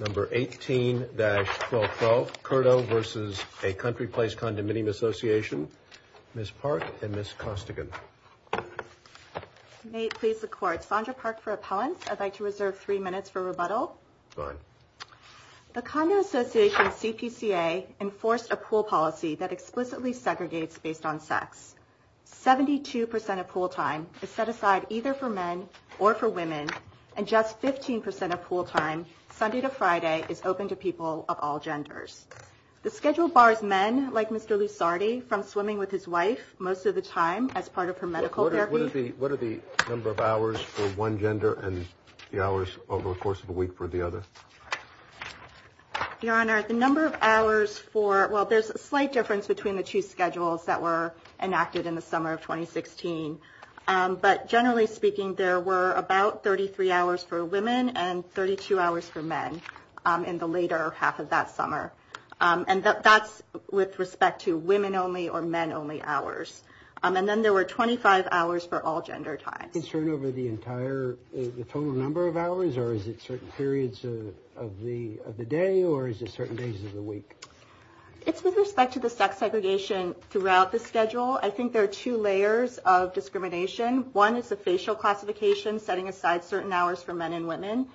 Number 18-1212,Curto versus ACountryPlaceCondominiumAssociation, Ms. Park and Ms. Costigan. May it please the Court, Sondra Park for appellant. I'd like to reserve three minutes for rebuttal. Fine. The Condo Association CPCA enforced a pool policy that explicitly segregates based on sex. Seventy-two percent of pool time is set aside either for men or for women. And just 15 percent of pool time, Sunday to Friday, is open to people of all genders. The schedule bars men, like Mr. Lusardi, from swimming with his wife most of the time as part of her medical therapy. What are the number of hours for one gender and the hours over the course of a week for the other? Your Honor, the number of hours for – well, there's a slight difference between the two schedules that were enacted in the summer of 2016. But generally speaking, there were about 33 hours for women and 32 hours for men in the later half of that summer. And that's with respect to women-only or men-only hours. And then there were 25 hours for all gender times. Is that a concern over the entire – the total number of hours, or is it certain periods of the day, or is it certain days of the week? It's with respect to the sex segregation throughout the schedule. I think there are two layers of discrimination. One is the facial classification, setting aside certain hours for men and women.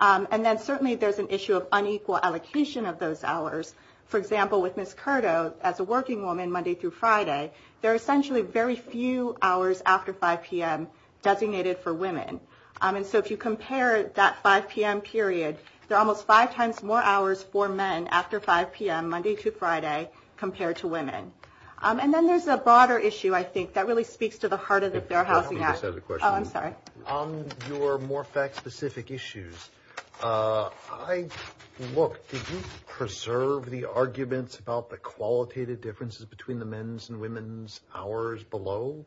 And then certainly there's an issue of unequal allocation of those hours. For example, with Ms. Curdo, as a working woman, Monday through Friday, there are essentially very few hours after 5 p.m. designated for women. And so if you compare that 5 p.m. period, there are almost five times more hours for men after 5 p.m., Monday through Friday, compared to women. And then there's a broader issue, I think, that really speaks to the heart of the Fair Housing Act. Let me just add a question. Oh, I'm sorry. On your more fact-specific issues, I – look, did you preserve the arguments about the qualitative differences between the men's and women's hours below?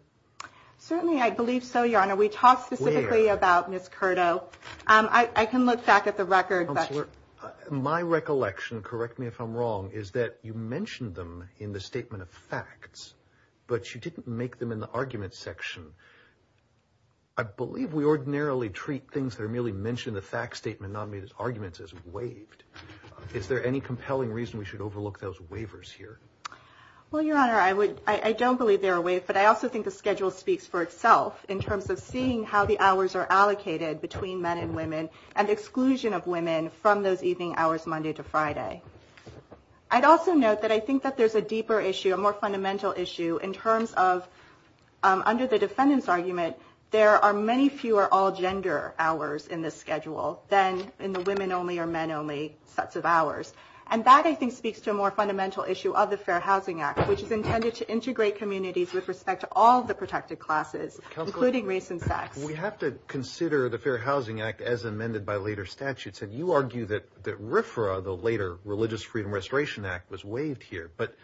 Certainly, I believe so, Your Honor. Where? We talked specifically about Ms. Curdo. I can look back at the record. Counselor, my recollection – correct me if I'm wrong – is that you mentioned them in the statement of facts, but you didn't make them in the arguments section. I believe we ordinarily treat things that are merely mentioned in the facts statement, not made as arguments, as waived. Is there any compelling reason we should overlook those waivers here? Well, Your Honor, I would – I don't believe they're waived, but I also think the schedule speaks for itself in terms of seeing how the hours are allocated between men and women and exclusion of women from those evening hours, Monday to Friday. I'd also note that I think that there's a deeper issue, a more fundamental issue, in terms of – under the defendant's argument, there are many fewer all-gender hours in this schedule than in the women-only or men-only sets of hours. And that, I think, speaks to a more fundamental issue of the Fair Housing Act, which is intended to integrate communities with respect to all the protected classes, including race and sex. We have to consider the Fair Housing Act as amended by later statutes. And you argue that RFRA, the later Religious Freedom Restoration Act, was waived here. But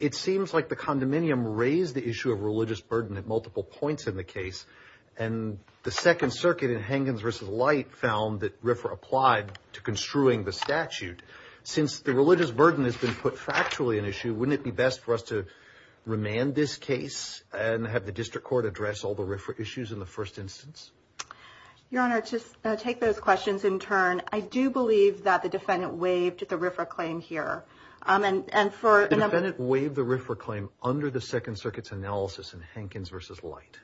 it seems like the condominium raised the issue of religious burden at multiple points in the case. And the Second Circuit in Hengens v. Light found that RFRA applied to construing the statute. Since the religious burden has been put factually an issue, wouldn't it be best for us to remand this case and have the district court address all the RFRA issues in the first instance? Your Honor, to take those questions in turn, I do believe that the defendant waived the RFRA claim here. The defendant waived the RFRA claim under the Second Circuit's analysis in Hengens v. Light?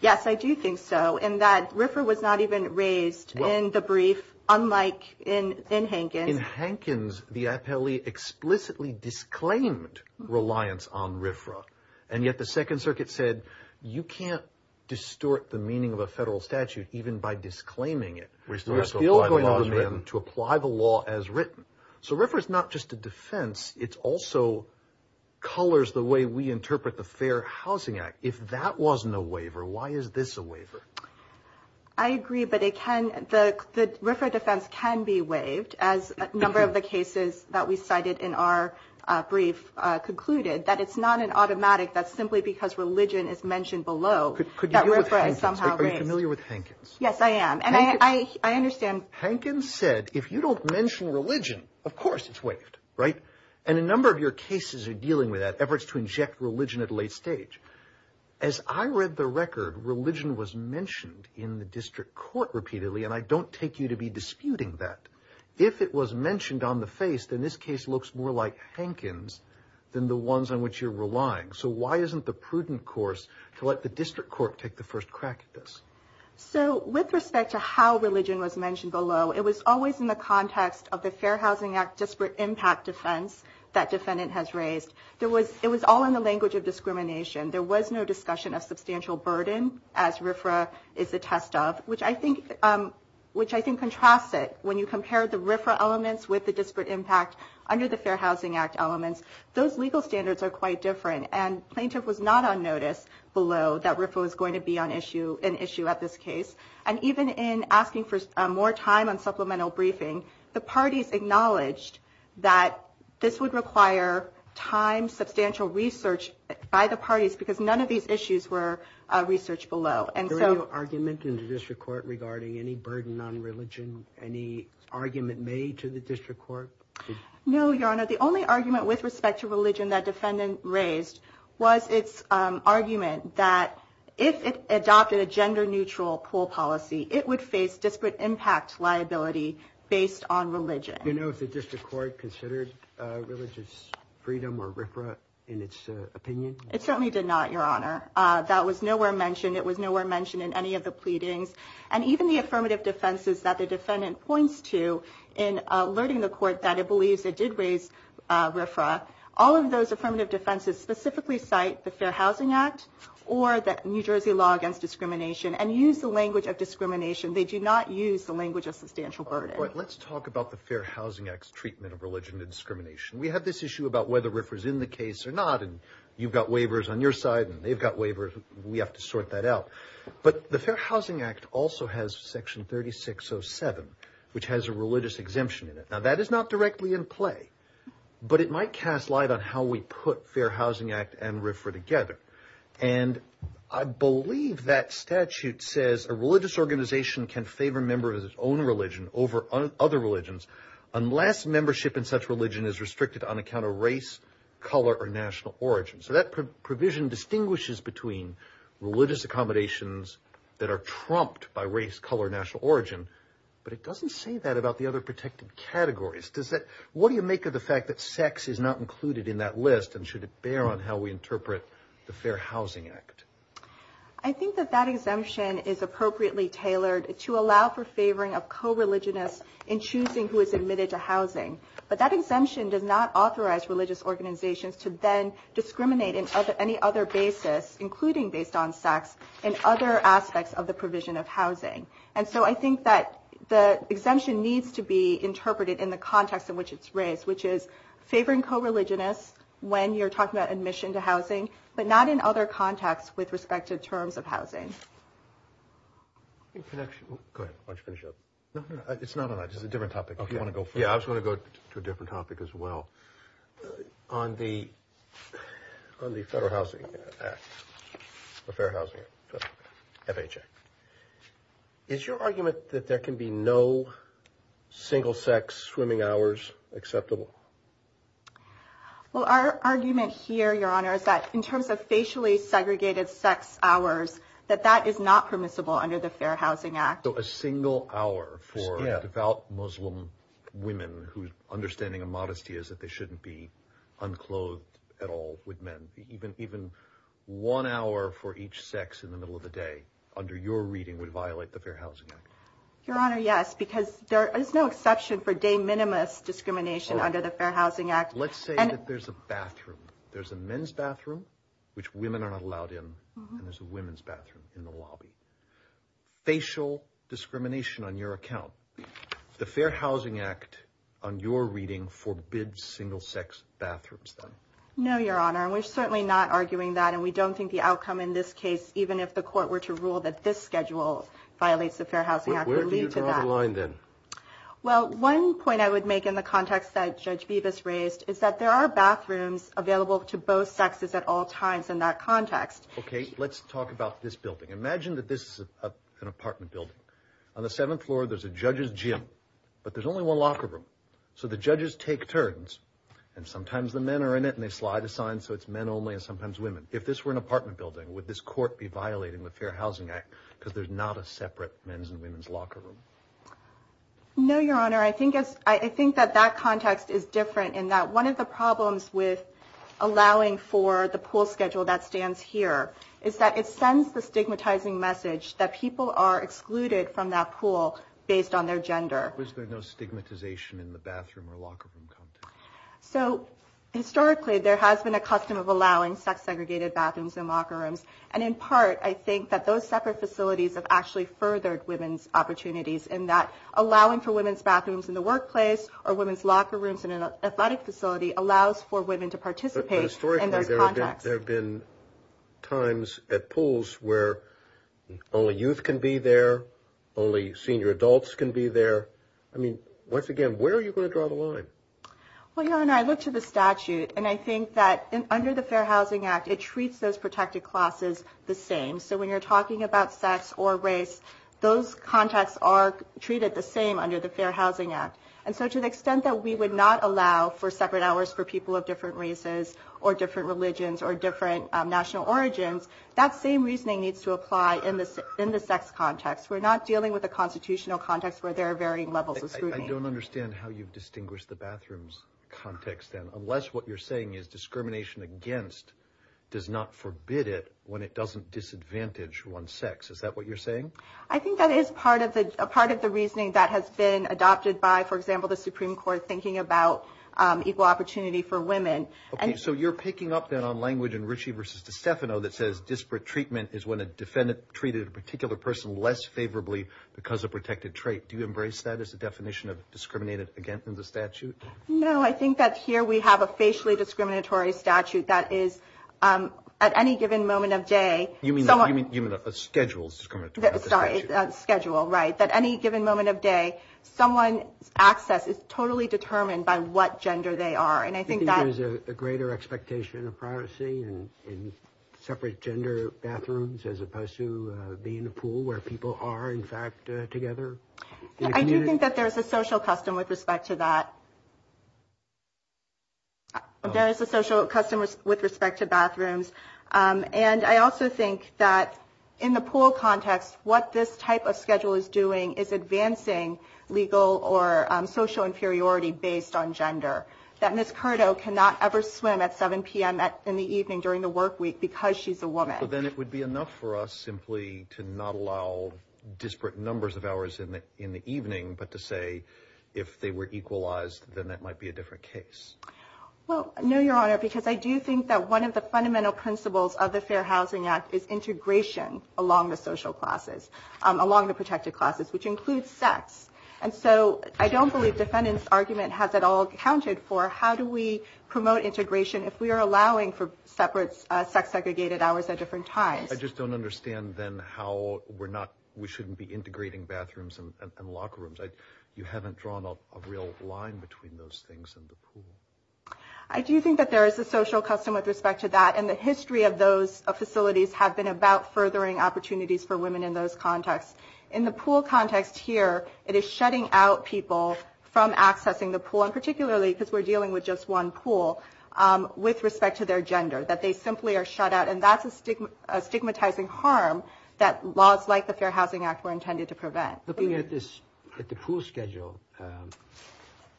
Yes, I do think so, in that RFRA was not even raised in the brief, unlike in Hengens. In Hengens, the appellee explicitly disclaimed reliance on RFRA. And yet the Second Circuit said, you can't distort the meaning of a federal statute even by disclaiming it. We're still going to demand to apply the law as written. So RFRA is not just a defense, it also colors the way we interpret the Fair Housing Act. If that wasn't a waiver, why is this a waiver? I agree, but the RFRA defense can be waived, as a number of the cases that we cited in our brief concluded, that it's not an automatic, that simply because religion is mentioned below, that RFRA is somehow waived. Are you familiar with Hengens? Yes, I am, and I understand. Hengens said, if you don't mention religion, of course it's waived, right? And a number of your cases are dealing with that, efforts to inject religion at a late stage. As I read the record, religion was mentioned in the district court repeatedly, and I don't take you to be disputing that. If it was mentioned on the face, then this case looks more like Hengens than the ones on which you're relying. So why isn't the prudent course to let the district court take the first crack at this? So with respect to how religion was mentioned below, it was always in the context of the Fair Housing Act disparate impact defense that defendant has raised. It was all in the language of discrimination. There was no discussion of substantial burden, as RFRA is a test of, which I think contrasts it. When you compare the RFRA elements with the disparate impact under the Fair Housing Act elements, those legal standards are quite different, and plaintiff was not on notice below that RFRA was going to be an issue at this case. And even in asking for more time on supplemental briefing, the parties acknowledged that this would require time, substantial research by the parties, because none of these issues were researched below. Was there any argument in the district court regarding any burden on religion, any argument made to the district court? No, Your Honor. The only argument with respect to religion that defendant raised was its argument that if it adopted a gender-neutral pool policy, it would face disparate impact liability based on religion. Do you know if the district court considered religious freedom or RFRA in its opinion? It certainly did not, Your Honor. That was nowhere mentioned. It was nowhere mentioned in any of the pleadings. And even the affirmative defenses that the defendant points to in alerting the court that it believes it did raise RFRA, all of those affirmative defenses specifically cite the Fair Housing Act or the New Jersey Law Against Discrimination and use the language of discrimination. They do not use the language of substantial burden. All right. Let's talk about the Fair Housing Act's treatment of religion and discrimination. We have this issue about whether RFRA is in the case or not, and you've got waivers on your side and they've got waivers. We have to sort that out. But the Fair Housing Act also has Section 3607, which has a religious exemption in it. Now, that is not directly in play, but it might cast light on how we put Fair Housing Act and RFRA together. And I believe that statute says a religious organization can favor a member of its own religion over other religions unless membership in such religion is restricted on account of race, color, or national origin. So that provision distinguishes between religious accommodations that are trumped by race, color, or national origin. But it doesn't say that about the other protected categories. What do you make of the fact that sex is not included in that list, and should it bear on how we interpret the Fair Housing Act? I think that that exemption is appropriately tailored to allow for favoring of co-religionists in choosing who is admitted to housing. But that exemption does not authorize religious organizations to then discriminate in any other basis, including based on sex, in other aspects of the provision of housing. And so I think that the exemption needs to be interpreted in the context in which it's raised, which is favoring co-religionists when you're talking about admission to housing, but not in other contexts with respect to terms of housing. Go ahead. Why don't you finish up? No, no, no. It's not on that. It's a different topic if you want to go further. Yeah, I was going to go to a different topic as well. On the Federal Housing Act, the Fair Housing Act, FHA, is your argument that there can be no single-sex swimming hours acceptable? Well, our argument here, Your Honor, is that in terms of facially segregated sex hours, that that is not permissible under the Fair Housing Act. So a single hour for devout Muslim women, whose understanding of modesty is that they shouldn't be unclothed at all with men, even one hour for each sex in the middle of the day, under your reading, would violate the Fair Housing Act? Your Honor, yes, because there is no exception for de minimis discrimination under the Fair Housing Act. Let's say that there's a bathroom. There's a men's bathroom, which women are not allowed in, and there's a women's bathroom in the lobby. Facial discrimination on your account. The Fair Housing Act, on your reading, forbids single-sex bathrooms then? No, Your Honor. We're certainly not arguing that, and we don't think the outcome in this case, even if the court were to rule that this schedule violates the Fair Housing Act, would lead to that. Where do you draw the line then? Well, one point I would make in the context that Judge Bevis raised is that there are bathrooms available to both sexes at all times in that context. Okay, let's talk about this building. Imagine that this is an apartment building. On the seventh floor, there's a judge's gym, but there's only one locker room. So the judges take turns, and sometimes the men are in it, and they slide a sign, so it's men only and sometimes women. If this were an apartment building, would this court be violating the Fair Housing Act because there's not a separate men's and women's locker room? No, Your Honor. I think that that context is different in that one of the problems with allowing for the pool schedule that stands here is that it sends the stigmatizing message that people are excluded from that pool based on their gender. Was there no stigmatization in the bathroom or locker room context? So historically, there has been a custom of allowing sex-segregated bathrooms in locker rooms, and in part, I think that those separate facilities have actually furthered women's opportunities in that allowing for women's bathrooms in the workplace or women's locker rooms in an athletic facility allows for women to participate in those contexts. Historically, there have been times at pools where only youth can be there, only senior adults can be there. I mean, once again, where are you going to draw the line? Well, Your Honor, I look to the statute, and I think that under the Fair Housing Act, it treats those protected classes the same. So when you're talking about sex or race, those contexts are treated the same under the Fair Housing Act. And so to the extent that we would not allow for separate hours for people of different races or different religions or different national origins, that same reasoning needs to apply in the sex context. We're not dealing with a constitutional context where there are varying levels of scrutiny. I don't understand how you've distinguished the bathrooms context, then, unless what you're saying is discrimination against does not forbid it when it doesn't disadvantage one's sex. Is that what you're saying? I think that is part of the reasoning that has been adopted by, for example, the Supreme Court, thinking about equal opportunity for women. Okay. So you're picking up, then, on language in Ritchie v. DeStefano that says disparate treatment is when a defendant treated a particular person less favorably because of protected trait. Do you embrace that as a definition of discriminated against in the statute? No, I think that here we have a facially discriminatory statute that is at any given moment of day. You mean a schedule is discriminatory? Sorry, a schedule, right. At any given moment of day, someone's access is totally determined by what gender they are. And I think that- Do you think there's a greater expectation of privacy in separate gender bathrooms as opposed to being in a pool where people are, in fact, together? I do think that there is a social custom with respect to that. There is a social custom with respect to bathrooms. And I also think that in the pool context, what this type of schedule is doing is advancing legal or social inferiority based on gender, that Ms. Curdo cannot ever swim at 7 p.m. in the evening during the work week because she's a woman. So then it would be enough for us simply to not allow disparate numbers of hours in the evening, but to say if they were equalized, then that might be a different case. Well, no, Your Honor, because I do think that one of the fundamental principles of the Fair Housing Act is integration along the social classes, along the protected classes, which includes sex. And so I don't believe defendant's argument has it all accounted for. How do we promote integration if we are allowing for separate sex-segregated hours at different times? I just don't understand, then, how we shouldn't be integrating bathrooms and locker rooms. You haven't drawn a real line between those things and the pool. I do think that there is a social custom with respect to that, and the history of those facilities have been about furthering opportunities for women in those contexts. In the pool context here, it is shutting out people from accessing the pool, and particularly because we're dealing with just one pool, with respect to their gender, that they simply are shut out. And that's a stigmatizing harm that laws like the Fair Housing Act were intended to prevent. Looking at the pool schedule,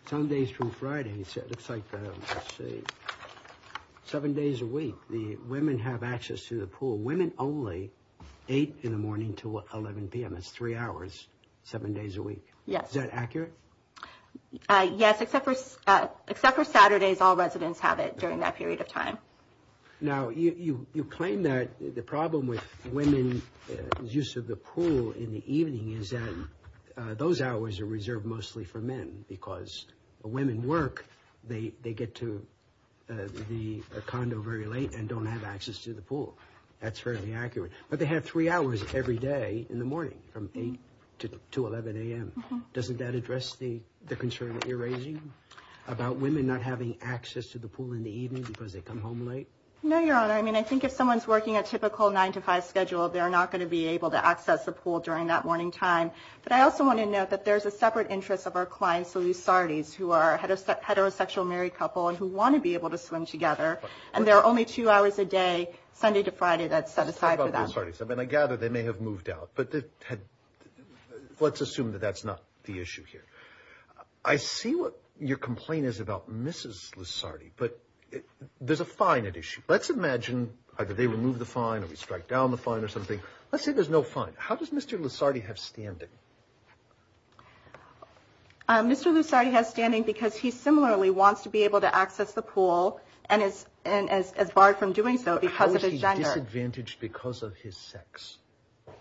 some days from Friday, it looks like, let's see, seven days a week, the women have access to the pool, women only, 8 in the morning to 11 p.m. That's three hours, seven days a week. Yes. Is that accurate? Yes, except for Saturdays, all residents have it during that period of time. Now, you claim that the problem with women's use of the pool in the evening is that those hours are reserved mostly for men, because the women work, they get to the condo very late and don't have access to the pool. That's fairly accurate. But they have three hours every day in the morning, from 8 to 11 a.m. Doesn't that address the concern that you're raising about women not having access to the pool in the evening because they come home late? No, Your Honor. I mean, I think if someone's working a typical 9 to 5 schedule, they're not going to be able to access the pool during that morning time. But I also want to note that there's a separate interest of our clients, the Lusartes, who are a heterosexual married couple and who want to be able to swim together, and there are only two hours a day, Sunday to Friday, that's set aside for them. I mean, I gather they may have moved out, but let's assume that that's not the issue here. I see what your complaint is about Mrs. Lusarte, but there's a fine at issue. Let's imagine either they remove the fine or we strike down the fine or something. Let's say there's no fine. How does Mr. Lusarte have standing? Mr. Lusarte has standing because he similarly wants to be able to access the pool and is barred from doing so because of his gender. Disadvantaged because of his sex.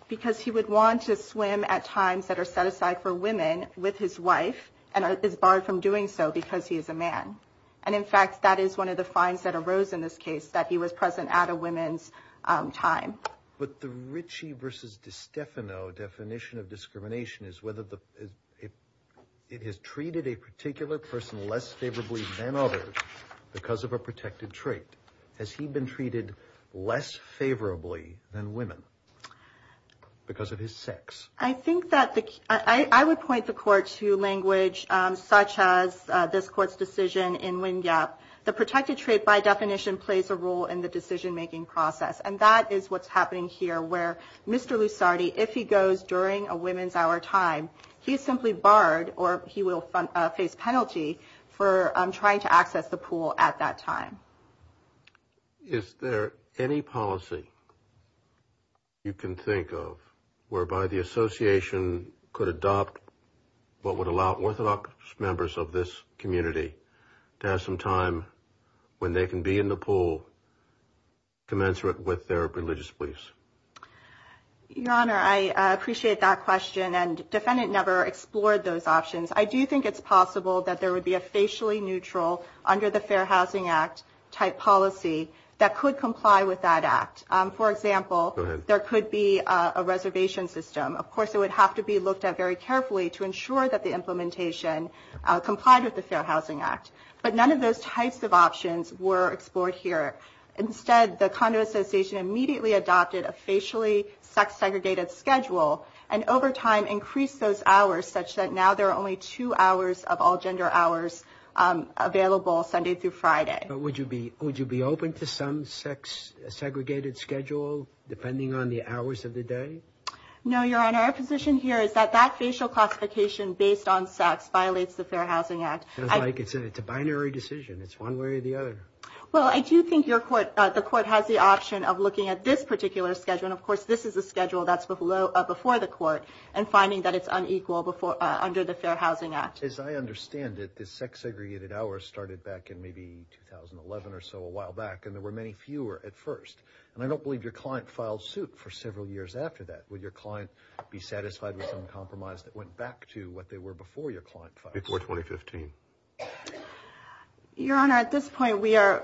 Because he would want to swim at times that are set aside for women with his wife and is barred from doing so because he is a man. And, in fact, that is one of the fines that arose in this case, that he was present at a women's time. But the Ritchie versus DiStefano definition of discrimination is whether it has treated a particular person less favorably than others because of a protected trait. Has he been treated less favorably than women because of his sex? I think that the – I would point the court to language such as this court's decision in Wingap. The protected trait, by definition, plays a role in the decision-making process, and that is what's happening here where Mr. Lusarte, if he goes during a women's hour time, he is simply barred or he will face penalty for trying to access the pool at that time. Is there any policy you can think of whereby the association could adopt what would allow Orthodox members of this community to have some time when they can be in the pool commensurate with their religious beliefs? Your Honor, I appreciate that question, and defendant never explored those options. I do think it's possible that there would be a facially neutral under the Fair Housing Act type policy that could comply with that act. For example, there could be a reservation system. Of course, it would have to be looked at very carefully to ensure that the implementation complied with the Fair Housing Act. But none of those types of options were explored here. Instead, the Condo Association immediately adopted a facially sex-segregated schedule and over time increased those hours such that now there are only two hours of all-gender hours available Sunday through Friday. But would you be open to some sex-segregated schedule depending on the hours of the day? No, Your Honor. Our position here is that that facial classification based on sex violates the Fair Housing Act. It sounds like it's a binary decision. It's one way or the other. Well, I do think the court has the option of looking at this particular schedule. Of course, this is a schedule that's before the court and finding that it's unequal under the Fair Housing Act. As I understand it, the sex-segregated hours started back in maybe 2011 or so, a while back, and there were many fewer at first. I don't believe your client filed suit for several years after that. Would your client be satisfied with some compromise that went back to what they were before your client filed suit? Before 2015. Your Honor, at this point we are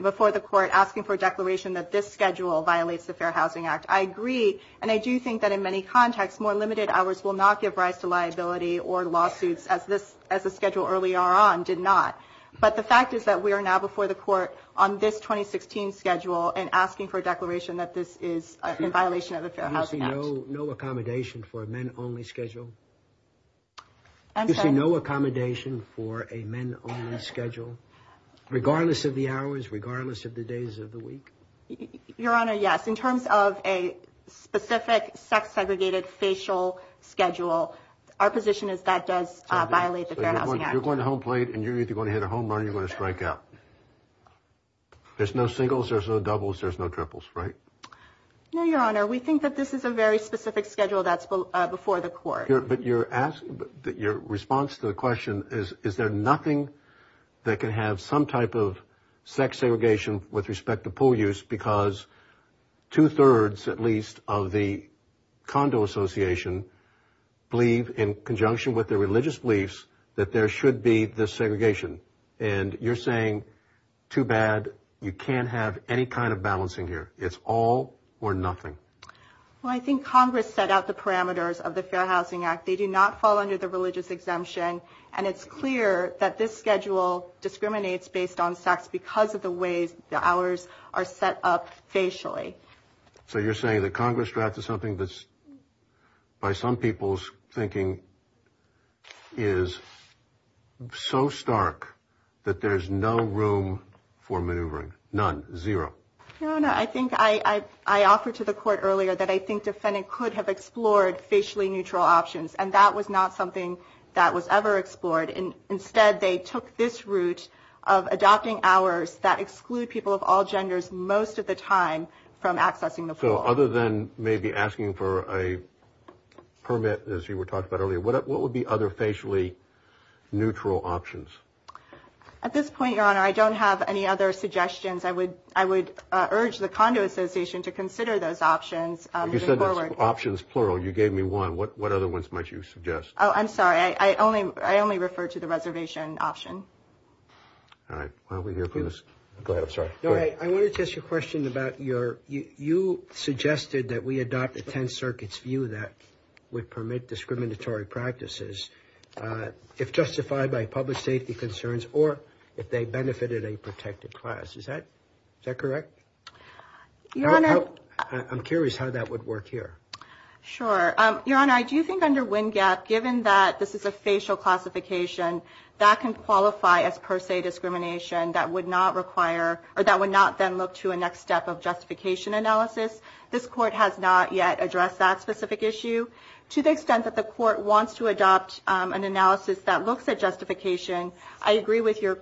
before the court asking for a declaration that this schedule violates the Fair Housing Act. I agree, and I do think that in many contexts more limited hours will not give rise to liability or lawsuits as the schedule earlier on did not. But the fact is that we are now before the court on this 2016 schedule and asking for a declaration that this is in violation of the Fair Housing Act. You see no accommodation for a men-only schedule? I'm sorry? You see no accommodation for a men-only schedule, regardless of the hours, regardless of the days of the week? Your Honor, yes. In terms of a specific sex-segregated facial schedule, our position is that does violate the Fair Housing Act. So you're going to home plate and you're either going to hit a home run or you're going to strike out. There's no singles, there's no doubles, there's no triples, right? No, Your Honor. We think that this is a very specific schedule that's before the court. But your response to the question is, is there nothing that can have some type of sex segregation with respect to pool use because two-thirds, at least, of the condo association believe in conjunction with their religious beliefs that there should be this segregation. And you're saying, too bad, you can't have any kind of balancing here. It's all or nothing. Well, I think Congress set out the parameters of the Fair Housing Act. They do not fall under the religious exemption. And it's clear that this schedule discriminates based on sex because of the ways the hours are set up facially. So you're saying the Congress draft is something that's, by some people's thinking, is so stark that there's no room for maneuvering? None? Zero? No, no. I think I offered to the court earlier that I think defendant could have explored facially neutral options, and that was not something that was ever explored. Instead, they took this route of adopting hours that exclude people of all genders most of the time from accessing the pool. So other than maybe asking for a permit, as you were talking about earlier, what would be other facially neutral options? At this point, Your Honor, I don't have any other suggestions. I would urge the Condo Association to consider those options moving forward. You said that's options plural. You gave me one. What other ones might you suggest? Oh, I'm sorry. I only refer to the reservation option. All right. Why don't we hear from this? Go ahead. I'm sorry. Go ahead. I wanted to ask you a question about your – you suggested that we adopt a 10-circuits view that would permit discriminatory practices if justified by public safety concerns or if they benefited a protected class. Is that correct? I'm curious how that would work here. Sure. Your Honor, I do think under WINGAP, given that this is a facial classification, that can qualify as per se discrimination. That would not require – or that would not then look to a next step of justification analysis. This Court has not yet addressed that specific issue. To the extent that the Court wants to adopt an analysis that looks at justification, I agree with your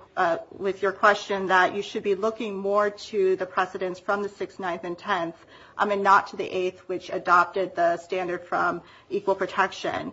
question that you should be looking more to the precedents from the 6th, 9th, and 10th and not to the 8th, which adopted the standard from equal protection.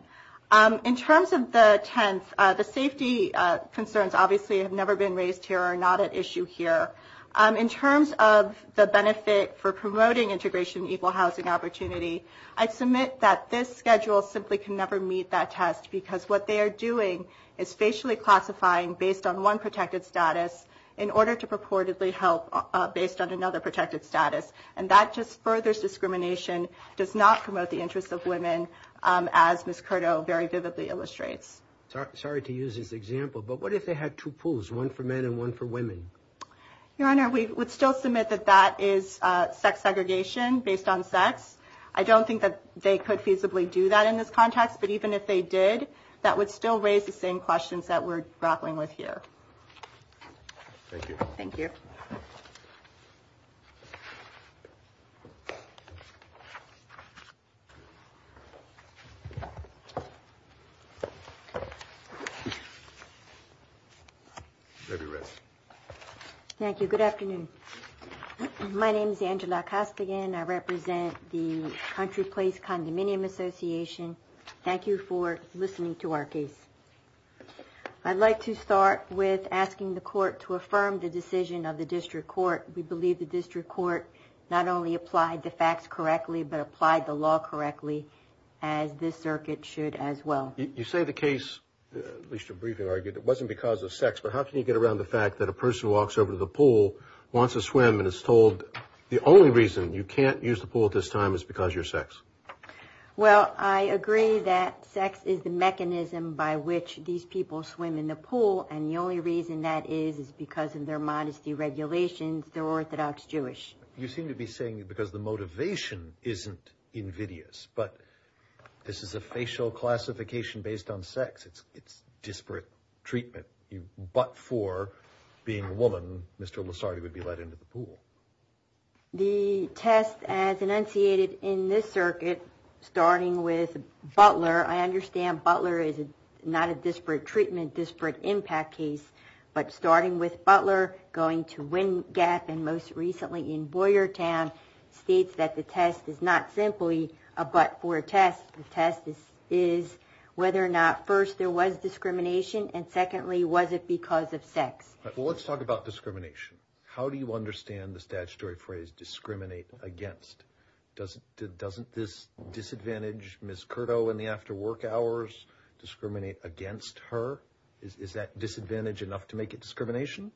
In terms of the 10th, the safety concerns obviously have never been raised here or are not at issue here. In terms of the benefit for promoting integration and equal housing opportunity, I submit that this schedule simply can never meet that test because what they are doing is facially classifying based on one protected status in order to purportedly help based on another protected status. And that just furthers discrimination, does not promote the interests of women, as Ms. Curdo very vividly illustrates. Sorry to use this example, but what if they had two pools, one for men and one for women? Your Honor, we would still submit that that is sex segregation based on sex. I don't think that they could feasibly do that in this context, but even if they did, that would still raise the same questions that we're grappling with here. Thank you. Thank you. Thank you. Thank you. Good afternoon. My name is Angela Koskogin. I represent the Country Place Condominium Association. Thank you for listening to our case. I'd like to start with asking the court to affirm the decision of the district court. We believe the district court not only applied the facts correctly, but applied the law correctly as this circuit should as well. You say the case, at least your briefing argued, it wasn't because of sex, but how can you get around the fact that a person walks over to the pool, wants to swim, and is told the only reason you can't use the pool at this time is because you're sex? Well, I agree that sex is the mechanism by which these people swim in the pool, and the only reason that is is because of their modesty regulations. They're Orthodox Jewish. You seem to be saying because the motivation isn't invidious, but this is a facial classification based on sex. It's disparate treatment. But for being a woman, Mr. Losardi would be let into the pool. I understand Butler is not a disparate treatment, disparate impact case, but starting with Butler going to Wind Gap and most recently in Boyertown, states that the test is not simply a but for a test. The test is whether or not, first, there was discrimination, and secondly, was it because of sex? Well, let's talk about discrimination. How do you understand the statutory phrase discriminate against? Doesn't this disadvantage Ms. Curdo in the after work hours discriminate against her? Is that disadvantage enough to make it discrimination?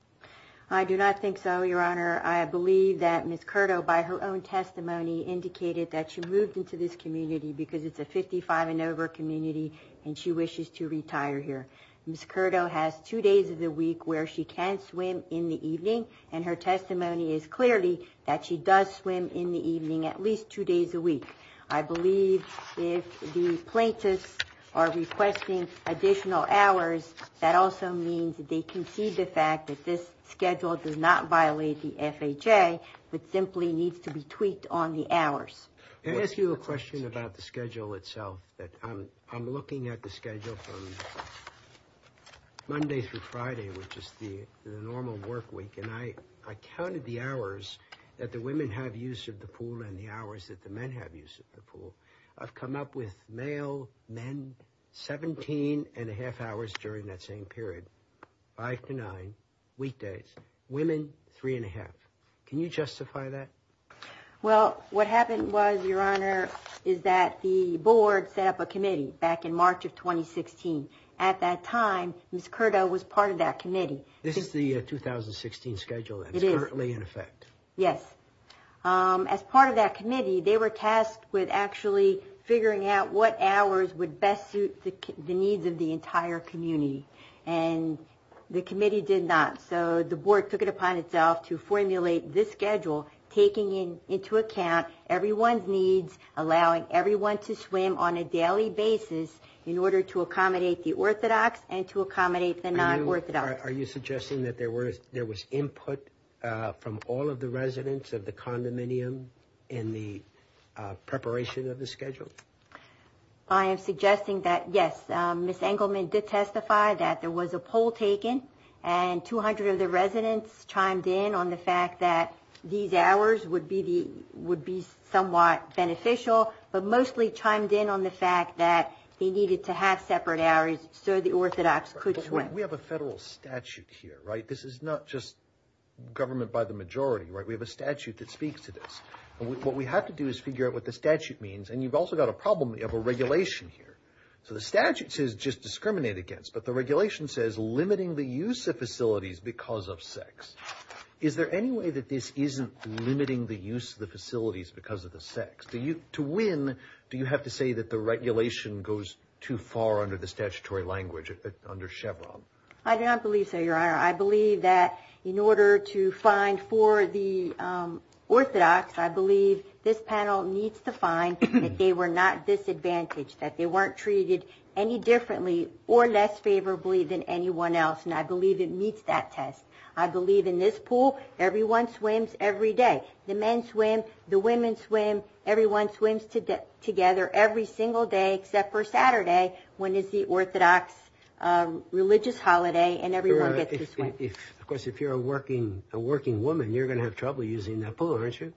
I do not think so, Your Honor. I believe that Ms. Curdo, by her own testimony, indicated that she moved into this community because it's a 55 and over community, and she wishes to retire here. Ms. Curdo has two days of the week where she can swim in the evening, and her testimony is clearly that she does swim in the evening at least two days a week. I believe if the plaintiffs are requesting additional hours, that also means that they concede the fact that this schedule does not violate the FHA, but simply needs to be tweaked on the hours. Can I ask you a question about the schedule itself? I'm looking at the schedule from Monday through Friday, which is the normal work week, and I counted the hours that the women have use of the pool and the hours that the men have use of the pool. I've come up with male, men, 17 and a half hours during that same period, five to nine, weekdays, women, three and a half. Can you justify that? Well, what happened was, Your Honor, is that the board set up a committee back in March of 2016. At that time, Ms. Curdo was part of that committee. This is the 2016 schedule that's currently in effect. Yes. As part of that committee, they were tasked with actually figuring out what hours would best suit the needs of the entire community, and the committee did not. So the board took it upon itself to formulate this schedule, taking into account everyone's needs, allowing everyone to swim on a daily basis in order to accommodate the Orthodox and to accommodate the non-Orthodox. Are you suggesting that there was input from all of the residents of the condominium in the preparation of the schedule? I am suggesting that, yes, Ms. Engelman did testify that there was a poll taken, and 200 of the residents chimed in on the fact that these hours would be somewhat beneficial, but mostly chimed in on the fact that they needed to have separate hours so the Orthodox could swim. We have a federal statute here, right? This is not just government by the majority, right? We have a statute that speaks to this. What we have to do is figure out what the statute means, and you've also got a problem of a regulation here. So the statute says just discriminate against, but the regulation says limiting the use of facilities because of sex. Is there any way that this isn't limiting the use of the facilities because of the sex? To win, do you have to say that the regulation goes too far under the statutory language, under Chevron? I do not believe so, Your Honor. I believe that in order to find for the Orthodox, I believe this panel needs to find that they were not disadvantaged, that they weren't treated any differently or less favorably than anyone else, and I believe it meets that test. I believe in this pool, everyone swims every day. The men swim. The women swim. Everyone swims together every single day except for Saturday when it's the Orthodox religious holiday, and everyone gets to swim. Of course, if you're a working woman, you're going to have trouble using that pool, aren't you?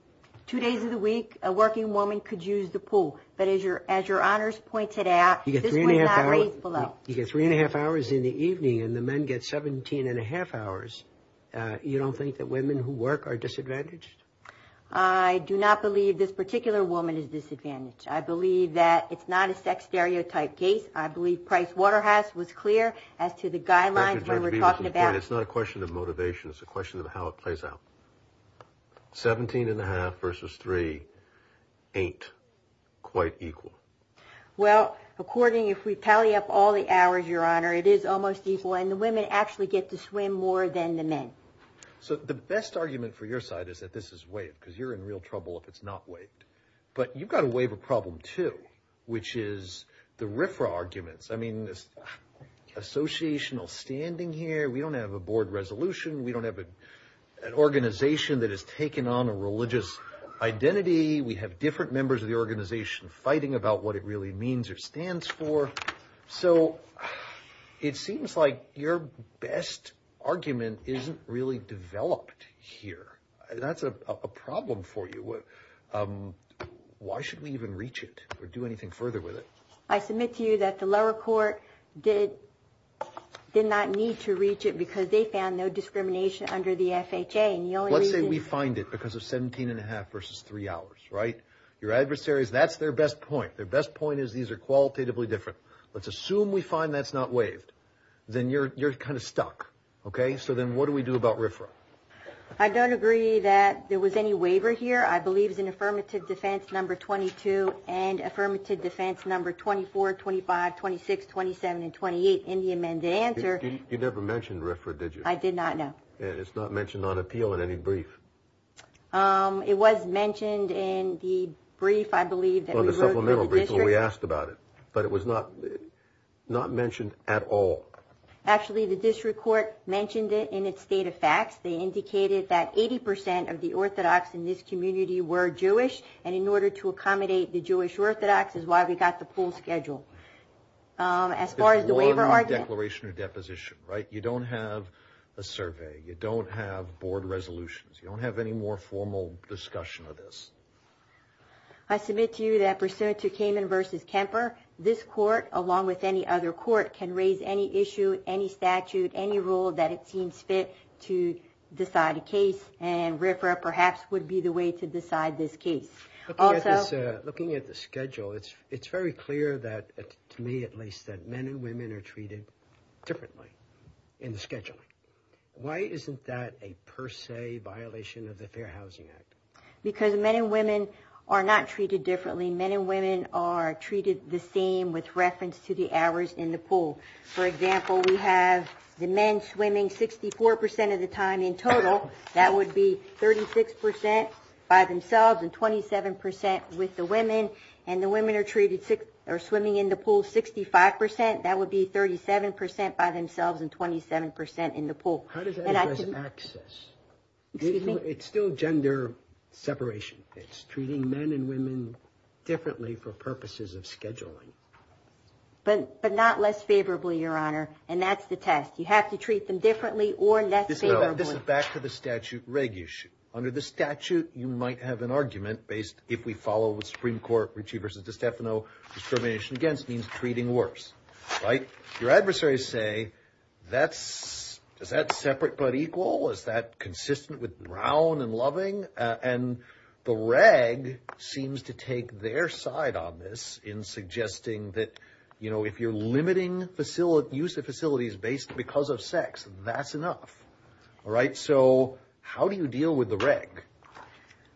Two days of the week, a working woman could use the pool, but as Your Honors pointed out, this was not raised below. You get three and a half hours in the evening, and the men get 17 and a half hours. You don't think that women who work are disadvantaged? I do not believe this particular woman is disadvantaged. I believe that it's not a sex stereotype case. I believe Pricewaterhouse was clear as to the guidelines when we're talking about it. It's not a question of motivation. It's a question of how it plays out. Seventeen and a half versus three ain't quite equal. Well, according, if we tally up all the hours, Your Honor, it is almost equal, and the women actually get to swim more than the men. So the best argument for your side is that this is waived, because you're in real trouble if it's not waived. But you've got to waive a problem, too, which is the RFRA arguments. I mean, this associational standing here, we don't have a board resolution. We don't have an organization that has taken on a religious identity. We have different members of the organization fighting about what it really means or stands for. So it seems like your best argument isn't really developed here. That's a problem for you. Why should we even reach it or do anything further with it? I submit to you that the lower court did not need to reach it because they found no discrimination under the FHA. Let's say we find it because of seventeen and a half versus three hours, right? Your adversaries, that's their best point. Their best point is these are qualitatively different. Let's assume we find that's not waived. Then you're kind of stuck, okay? So then what do we do about RFRA? I don't agree that there was any waiver here. I believe it's in Affirmative Defense Number 22 and Affirmative Defense Number 24, 25, 26, 27, and 28 in the amended answer. You never mentioned RFRA, did you? I did not, no. And it's not mentioned on appeal in any brief. It was mentioned in the brief, I believe, that we wrote to the district. On the supplemental brief when we asked about it. But it was not mentioned at all. Actually, the district court mentioned it in its data facts. They indicated that 80 percent of the Orthodox in this community were Jewish, and in order to accommodate the Jewish Orthodox is why we got the pool schedule. As far as the waiver argument. It's one declaration or deposition, right? You don't have a survey. You don't have board resolutions. You don't have any more formal discussion of this. I submit to you that pursuant to Kamen v. Kemper, this court, along with any other court, can raise any issue, any statute, any rule that it seems fit to decide a case, and RFRA perhaps would be the way to decide this case. Looking at the schedule, it's very clear that, to me at least, that men and women are treated differently in the scheduling. Why isn't that a per se violation of the Fair Housing Act? Because men and women are not treated differently. Men and women are treated the same with reference to the hours in the pool. For example, we have the men swimming 64 percent of the time in total. That would be 36 percent by themselves and 27 percent with the women, and the women are swimming in the pool 65 percent. That would be 37 percent by themselves and 27 percent in the pool. How does that address access? Excuse me? It's still gender separation. It's treating men and women differently for purposes of scheduling. But not less favorably, Your Honor, and that's the test. You have to treat them differently or less favorably. This is back to the statute reg issue. Under the statute, you might have an argument based, if we follow the Supreme Court Ritchie v. DeStefano, discrimination against means treating worse, right? Your adversaries say, does that separate but equal? Is that consistent with brown and loving? And the reg seems to take their side on this in suggesting that, you know, if you're limiting use of facilities because of sex, that's enough. All right? So how do you deal with the reg?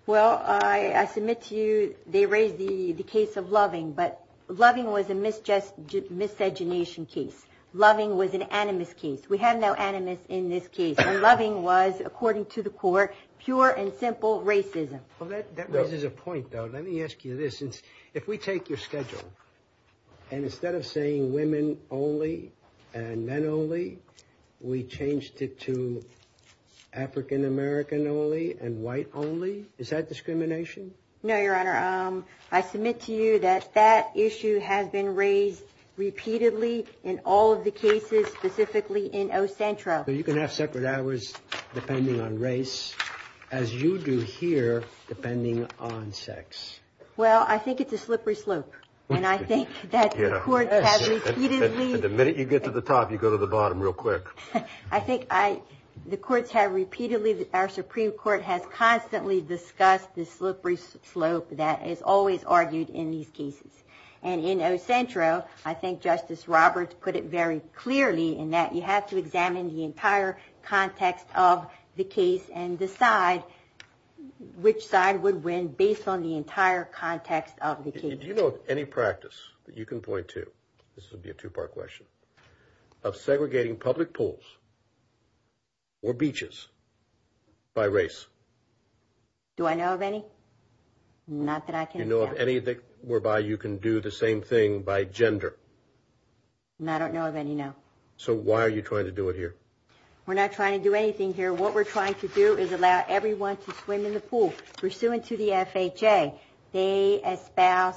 Well, I submit to you they raised the case of loving, but loving was a miscegenation case. Loving was an animus case. We have no animus in this case, and loving was, according to the court, pure and simple racism. Well, that raises a point, though. Let me ask you this. For instance, if we take your schedule and instead of saying women only and men only, we changed it to African American only and white only, is that discrimination? No, Your Honor. I submit to you that that issue has been raised repeatedly in all of the cases, specifically in Ocentro. Well, you can have separate hours depending on race, as you do here depending on sex. Well, I think it's a slippery slope, and I think that the courts have repeatedly – The minute you get to the top, you go to the bottom real quick. I think the courts have repeatedly – our Supreme Court has constantly discussed the slippery slope that is always argued in these cases. And in Ocentro, I think Justice Roberts put it very clearly in that you have to examine the entire context of the case and decide which side would win based on the entire context of the case. Do you know of any practice that you can point to – this would be a two-part question – of segregating public pools or beaches by race? Do I know of any? Not that I can account for. Do you know of any whereby you can do the same thing by gender? I don't know of any, no. So why are you trying to do it here? We're not trying to do anything here. What we're trying to do is allow everyone to swim in the pool. Pursuant to the FHA, they espouse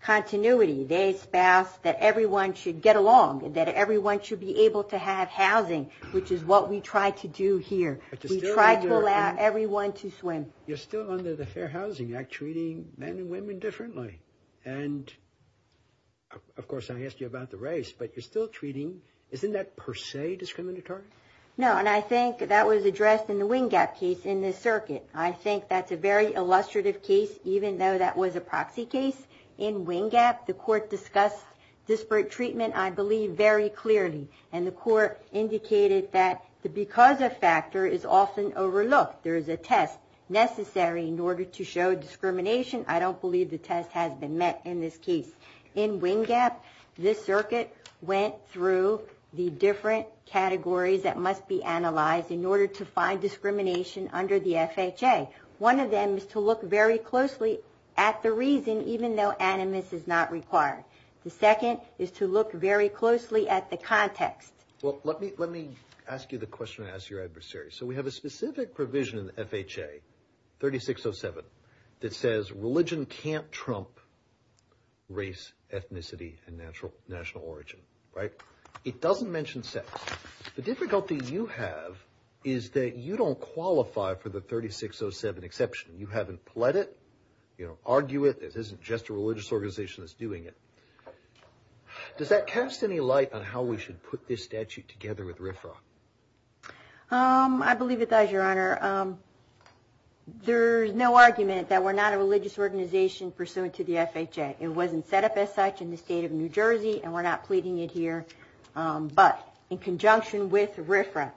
continuity. They espouse that everyone should get along, that everyone should be able to have housing, which is what we try to do here. We try to allow everyone to swim. You're still under the Fair Housing Act treating men and women differently. And, of course, I asked you about the race, but you're still treating – isn't that per se discriminatory? No, and I think that was addressed in the Wingap case in this circuit. I think that's a very illustrative case, even though that was a proxy case. In Wingap, the court discussed disparate treatment, I believe, very clearly, and the court indicated that the because of factor is often overlooked. There is a test necessary in order to show discrimination. I don't believe the test has been met in this case. In Wingap, this circuit went through the different categories that must be analyzed in order to find discrimination under the FHA. One of them is to look very closely at the reason, even though animus is not required. The second is to look very closely at the context. Well, let me ask you the question and ask your adversary. So we have a specific provision in the FHA, 3607, that says religion can't trump race, ethnicity, and national origin, right? It doesn't mention sex. The difficulty you have is that you don't qualify for the 3607 exception. You haven't pled it. You don't argue it. This isn't just a religious organization that's doing it. Does that cast any light on how we should put this statute together with RFRA? I believe it does, Your Honor. There's no argument that we're not a religious organization pursuant to the FHA. It wasn't set up as such in the state of New Jersey, and we're not pleading it here. But in conjunction with RFRA,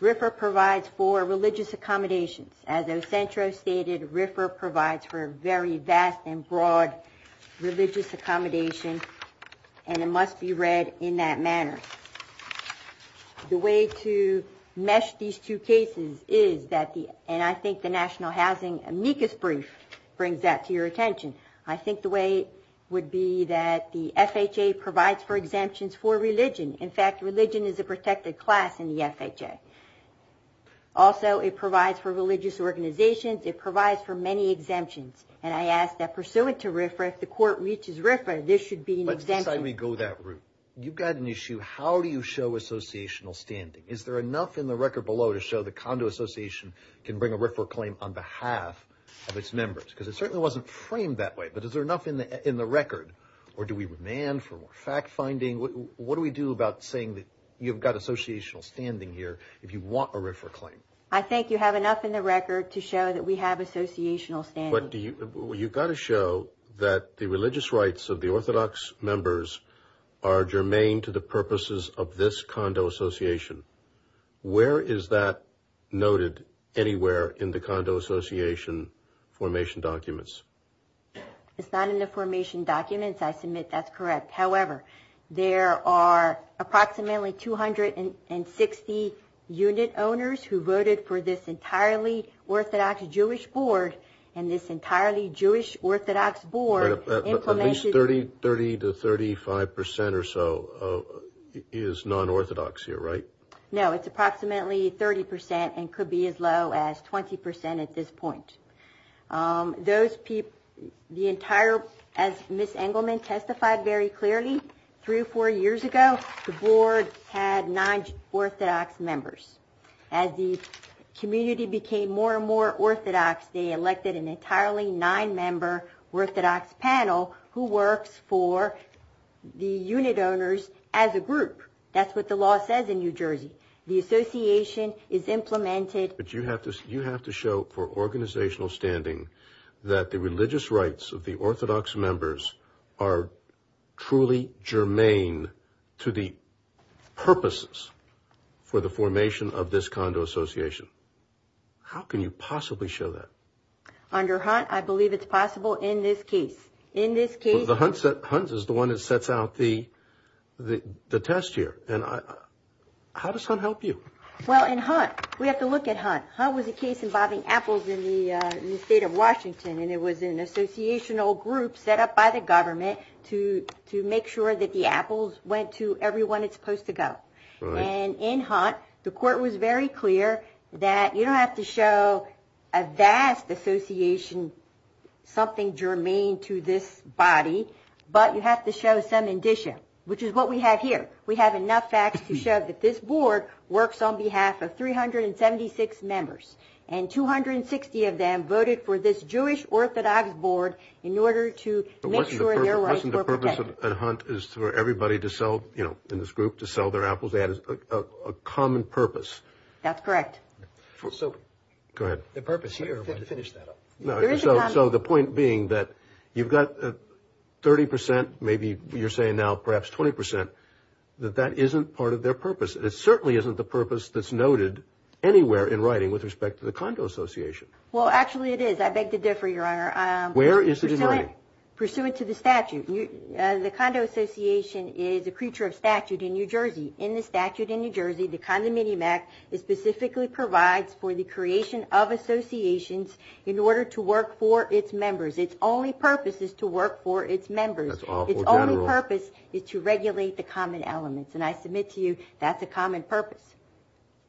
RFRA provides for religious accommodations. As Ocentro stated, RFRA provides for a very vast and broad religious accommodation, and it must be read in that manner. The way to mesh these two cases is that the – and I think the National Housing Amicus Brief brings that to your attention. I think the way would be that the FHA provides for exemptions for religion. In fact, religion is a protected class in the FHA. Also, it provides for religious organizations. It provides for many exemptions, and I ask that pursuant to RFRA, if the court reaches RFRA, this should be an exemption. Let's decide we go that route. You've got an issue. How do you show associational standing? Is there enough in the record below to show the condo association can bring a RFRA claim on behalf of its members? Because it certainly wasn't framed that way, but is there enough in the record? Or do we demand for more fact-finding? What do we do about saying that you've got associational standing here if you want a RFRA claim? I think you have enough in the record to show that we have associational standing. You've got to show that the religious rights of the Orthodox members are germane to the purposes of this condo association. Where is that noted anywhere in the condo association formation documents? It's not in the formation documents. I submit that's correct. However, there are approximately 260 unit owners who voted for this entirely Orthodox Jewish board and this entirely Jewish Orthodox board... At least 30% to 35% or so is non-Orthodox here, right? No, it's approximately 30% and could be as low as 20% at this point. As Ms. Engelman testified very clearly, three or four years ago, the board had non-Orthodox members. As the community became more and more Orthodox, they elected an entirely nine-member Orthodox panel who works for the unit owners as a group. That's what the law says in New Jersey. The association is implemented... But you have to show for organizational standing that the religious rights of the Orthodox members are truly germane to the purposes for the formation of this condo association. How can you possibly show that? Under Hunt, I believe it's possible in this case. Hunt is the one that sets out the test here. How does Hunt help you? Well, in Hunt, we have to look at Hunt. Hunt was a case involving apples in the state of Washington and it was an associational group set up by the government to make sure that the apples went to everyone it's supposed to go. In Hunt, the court was very clear that you don't have to show a vast association, something germane to this body, but you have to show some indicia, which is what we have here. We have enough facts to show that this board works on behalf of 376 members and 260 of them voted for this Jewish Orthodox board in order to make sure their rights were protected. But wasn't the purpose of Hunt is for everybody to sell, you know, in this group, to sell their apples? They had a common purpose. That's correct. So... Go ahead. The purpose here... Finish that up. So the point being that you've got 30%, maybe you're saying now perhaps 20%, that that isn't part of their purpose. It certainly isn't the purpose that's noted anywhere in writing with respect to the condo association. Well, actually it is. I beg to differ, Your Honor. Where is it noted? Pursuant to the statute. The condo association is a creature of statute in New Jersey. In the statute in New Jersey, the condominium act specifically provides for the creation of associations in order to work for its members. Its only purpose is to work for its members. Its only purpose is to regulate the common elements. And I submit to you that's a common purpose.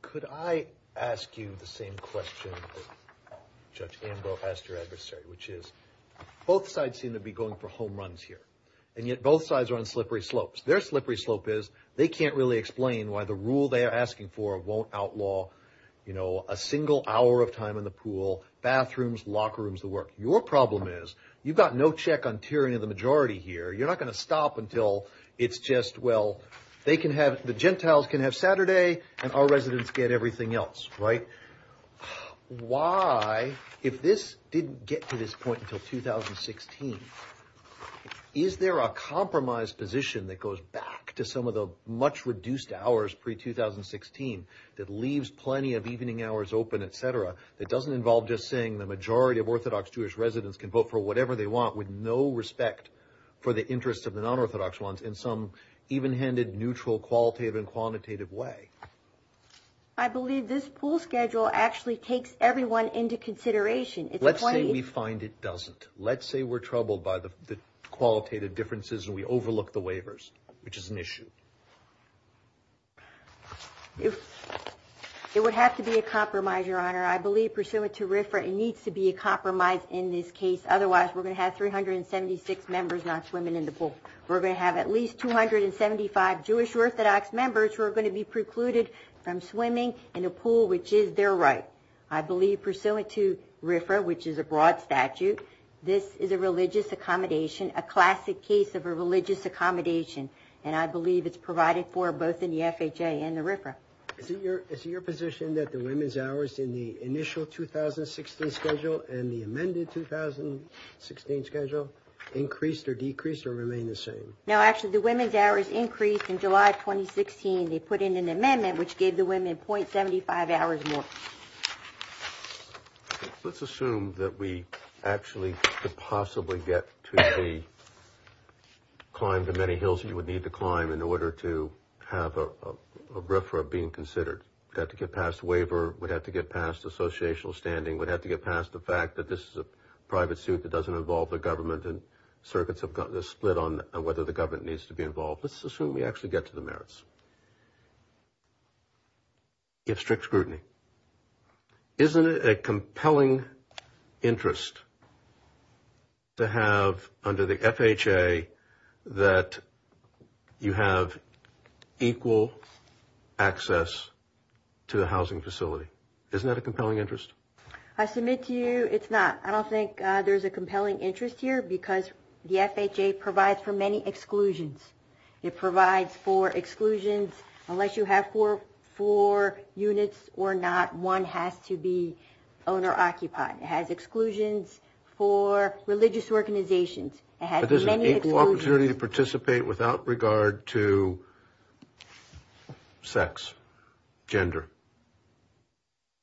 Could I ask you the same question that Judge Ambrose asked your adversary, which is both sides seem to be going for home runs here. And yet both sides are on slippery slopes. Their slippery slope is they can't really explain why the rule they are asking for won't outlaw, you know, a single hour of time in the pool, bathrooms, locker rooms, the work. Your problem is you've got no check on tiering of the majority here. You're not going to stop until it's just, well, they can have, the Gentiles can have Saturday and our residents get everything else, right? Why, if this didn't get to this point until 2016, is there a compromise position that goes back to some of the much reduced hours pre-2016 that leaves plenty of evening hours open, et cetera, that doesn't involve just saying the majority of Orthodox Jewish residents can vote for whatever they want with no respect for the interests of the non-Orthodox ones in some even-handed, neutral, qualitative, and quantitative way? I believe this pool schedule actually takes everyone into consideration. Let's say we find it doesn't. Let's say we're troubled by the qualitative differences and we overlook the waivers, which is an issue. It would have to be a compromise, Your Honor. I believe, pursuant to RFRA, it needs to be a compromise in this case. Otherwise, we're going to have 376 members not swimming in the pool. We're going to have at least 275 Jewish Orthodox members who are going to be precluded from swimming in a pool, which is their right. I believe, pursuant to RFRA, which is a broad statute, this is a religious accommodation, a classic case of a religious accommodation, and I believe it's provided for both in the FHA and the RFRA. Is it your position that the women's hours in the initial 2016 schedule and the amended 2016 schedule increased or decreased or remain the same? No, actually, the women's hours increased in July 2016. They put in an amendment which gave the women .75 hours more. Let's assume that we actually could possibly get to the climb to many hills you would need to climb in order to have a RFRA being considered. We'd have to get past waiver. We'd have to get past associational standing. We'd have to get past the fact that this is a private suit that doesn't involve the government and circuits have got this split on whether the government needs to be involved. Let's assume we actually get to the merits if strict scrutiny. Isn't it a compelling interest to have under the FHA that you have equal access to the housing facility? Isn't that a compelling interest? I submit to you it's not. I don't think there's a compelling interest here because the FHA provides for many exclusions. It provides for exclusions. Unless you have four units or not, one has to be owner-occupied. It has exclusions for religious organizations. It has many exclusions. But there's an equal opportunity to participate without regard to sex, gender.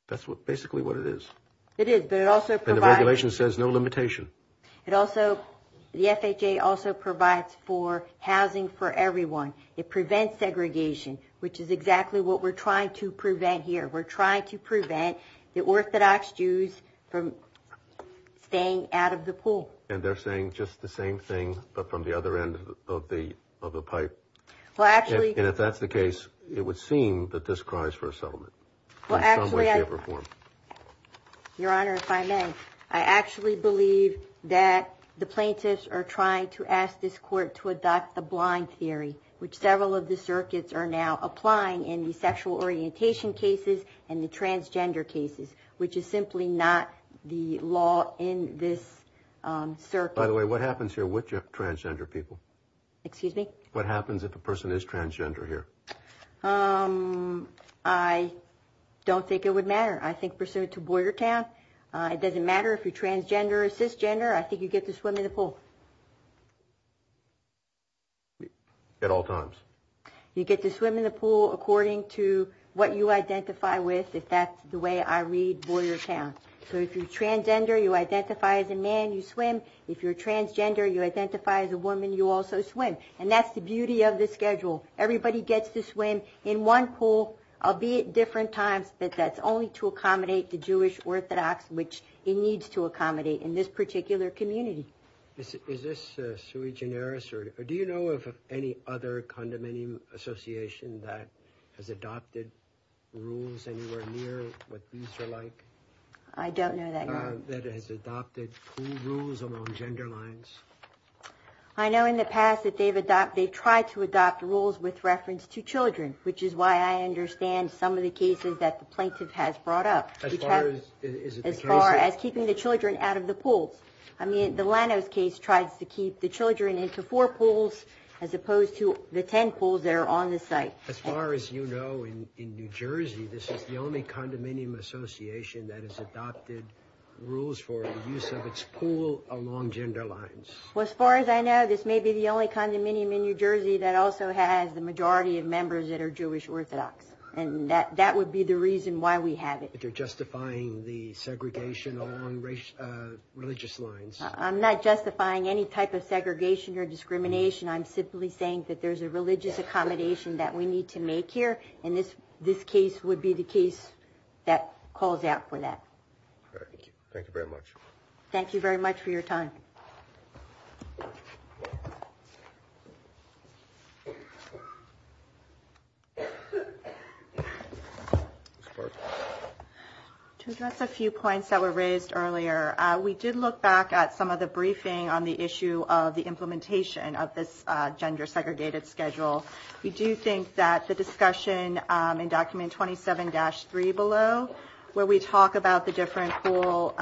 That's basically what it is. It is, but it also provides. And the regulation says no limitation. The FHA also provides for housing for everyone. It prevents segregation, which is exactly what we're trying to prevent here. We're trying to prevent the Orthodox Jews from staying out of the pool. And they're saying just the same thing but from the other end of the pipe. And if that's the case, it would seem that this cries for a settlement in some way, shape, or form. Your Honor, if I may, I actually believe that the plaintiffs are trying to ask this court to adopt the blind theory, which several of the circuits are now applying in the sexual orientation cases and the transgender cases, which is simply not the law in this circuit. By the way, what happens here with transgender people? Excuse me? What happens if a person is transgender here? I don't think it would matter. I think pursuant to Boyertown, it doesn't matter if you're transgender or cisgender. I think you get to swim in the pool. At all times? You get to swim in the pool according to what you identify with, if that's the way I read Boyertown. So if you're transgender, you identify as a man, you swim. If you're transgender, you identify as a woman, you also swim. And that's the beauty of this schedule. Everybody gets to swim in one pool, albeit different times, but that's only to accommodate the Jewish Orthodox, which it needs to accommodate in this particular community. Is this sui generis? Do you know of any other condominium association that has adopted rules anywhere near what these are like? I don't know that yet. That has adopted pool rules along gender lines? I know in the past that they've tried to adopt rules with reference to children, which is why I understand some of the cases that the plaintiff has brought up. As far as keeping the children out of the pools? I mean, the Lanos case tries to keep the children into four pools as opposed to the ten pools that are on the site. As far as you know, in New Jersey, this is the only condominium association that has adopted rules for the use of its pool along gender lines. Well, as far as I know, this may be the only condominium in New Jersey that also has the majority of members that are Jewish Orthodox, and that would be the reason why we have it. But you're justifying the segregation along religious lines. I'm not justifying any type of segregation or discrimination. I'm simply saying that there's a religious accommodation that we need to make here, and this case would be the case that calls out for that. Thank you very much. Thank you very much for your time. To address a few points that were raised earlier, we did look back at some of the briefing on the issue of the implementation of this gender-segregated schedule. We do think that the discussion in Document 27-3 below, where we talk about the different pool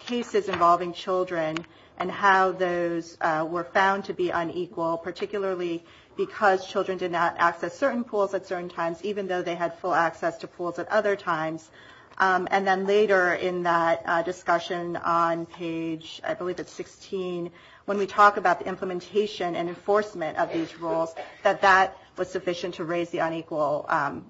cases involving children and how those were found to be unequal, particularly because children did not access certain pools at certain times, even though they had full access to pools at other times. And then later in that discussion on page, I believe it's 16, when we talk about the implementation and enforcement of these rules, that that was sufficient to raise the unequal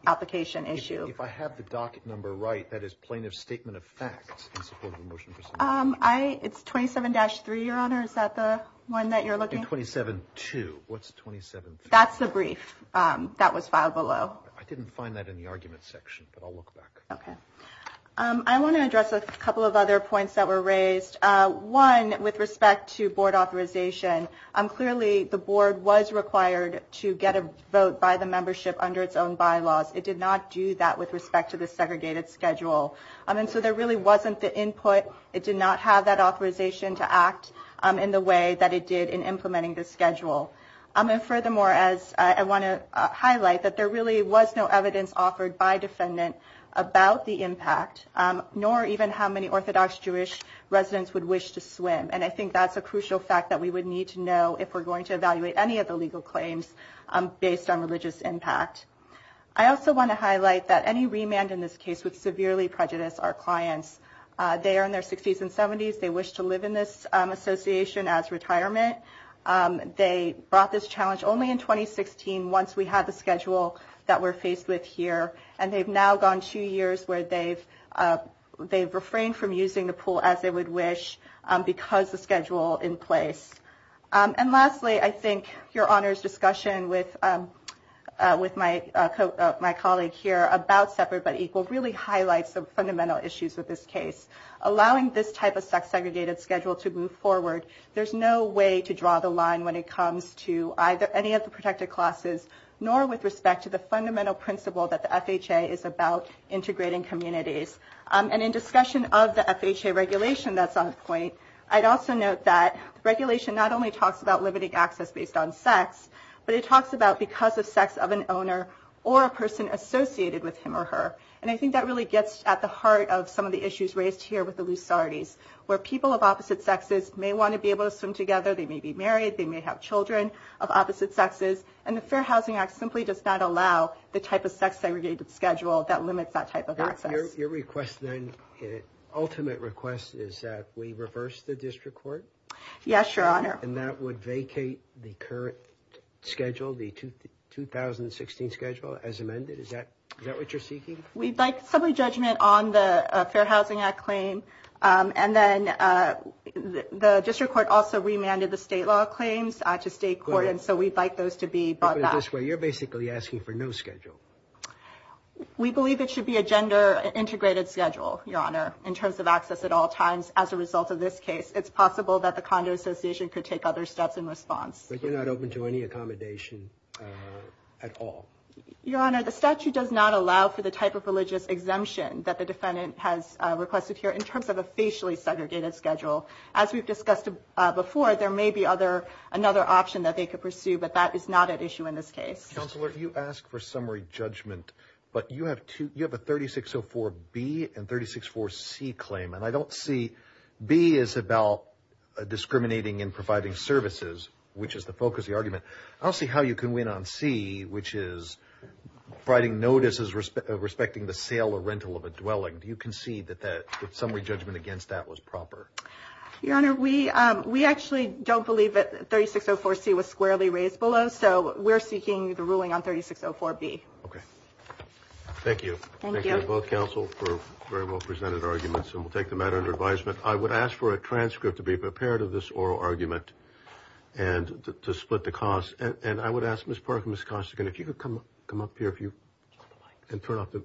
application issue. If I have the docket number right, that is plaintiff's statement of facts in support of a motion for submission. It's 27-3, Your Honor. Is that the one that you're looking at? 27-2. What's 27-3? That's the brief that was filed below. I didn't find that in the argument section, but I'll look back. Okay. I want to address a couple of other points that were raised. One, with respect to board authorization, clearly the board was required to get a vote by the membership under its own bylaws. It did not do that with respect to the segregated schedule. And so there really wasn't the input. It did not have that authorization to act in the way that it did in implementing the schedule. And furthermore, I want to highlight that there really was no evidence offered by defendant about the impact, nor even how many Orthodox Jewish residents would wish to swim. And I think that's a crucial fact that we would need to know if we're going to evaluate any of the legal claims based on religious impact. I also want to highlight that any remand in this case would severely prejudice our clients. They are in their 60s and 70s. They wish to live in this association as retirement. They brought this challenge only in 2016 once we had the schedule that we're faced with here. And they've now gone two years where they've refrained from using the pool as they would wish because the schedule in place. And lastly, I think your Honor's discussion with my colleague here about separate but equal really highlights the fundamental issues with this case. Allowing this type of sex-segregated schedule to move forward, there's no way to draw the line when it comes to either any of the protected classes, nor with respect to the fundamental principle that the FHA is about integrating communities. And in discussion of the FHA regulation that's on point, I'd also note that regulation not only talks about limiting access based on sex, but it talks about because of sex of an owner or a person associated with him or her. And I think that really gets at the heart of some of the issues raised here with the Lusartes, where people of opposite sexes may want to be able to swim together, they may be married, they may have children of opposite sexes, and the Fair Housing Act simply does not allow the type of sex-segregated schedule that limits that type of access. Your request then, ultimate request, is that we reverse the district court? Yes, Your Honor. And that would vacate the current schedule, the 2016 schedule, as amended? Is that what you're seeking? We'd like some re-judgment on the Fair Housing Act claim, and then the district court also remanded the state law claims to state court, and so we'd like those to be brought back. You're basically asking for no schedule? We believe it should be a gender-integrated schedule, Your Honor, in terms of access at all times. As a result of this case, it's possible that the Condo Association could take other steps in response. But you're not open to any accommodation at all? Your Honor, the statute does not allow for the type of religious exemption that the defendant has requested here in terms of a facially-segregated schedule. As we've discussed before, there may be another option that they could pursue, but that is not at issue in this case. Counselor, you asked for summary judgment, but you have a 3604B and 3604C claim, and I don't see B is about discriminating and providing services, which is the focus of the argument. I don't see how you can win on C, which is providing notices respecting the sale or rental of a dwelling. Do you concede that the summary judgment against that was proper? Your Honor, we actually don't believe that 3604C was squarely raised below, so we're seeking the ruling on 3604B. Okay. Thank you. Thank you to both counsel for very well-presented arguments, and we'll take the matter under advisement. I would ask for a transcript to be prepared of this oral argument and to split the cost, and I would ask Ms. Parker and Ms. Costigan, if you could come up here and turn off the mics.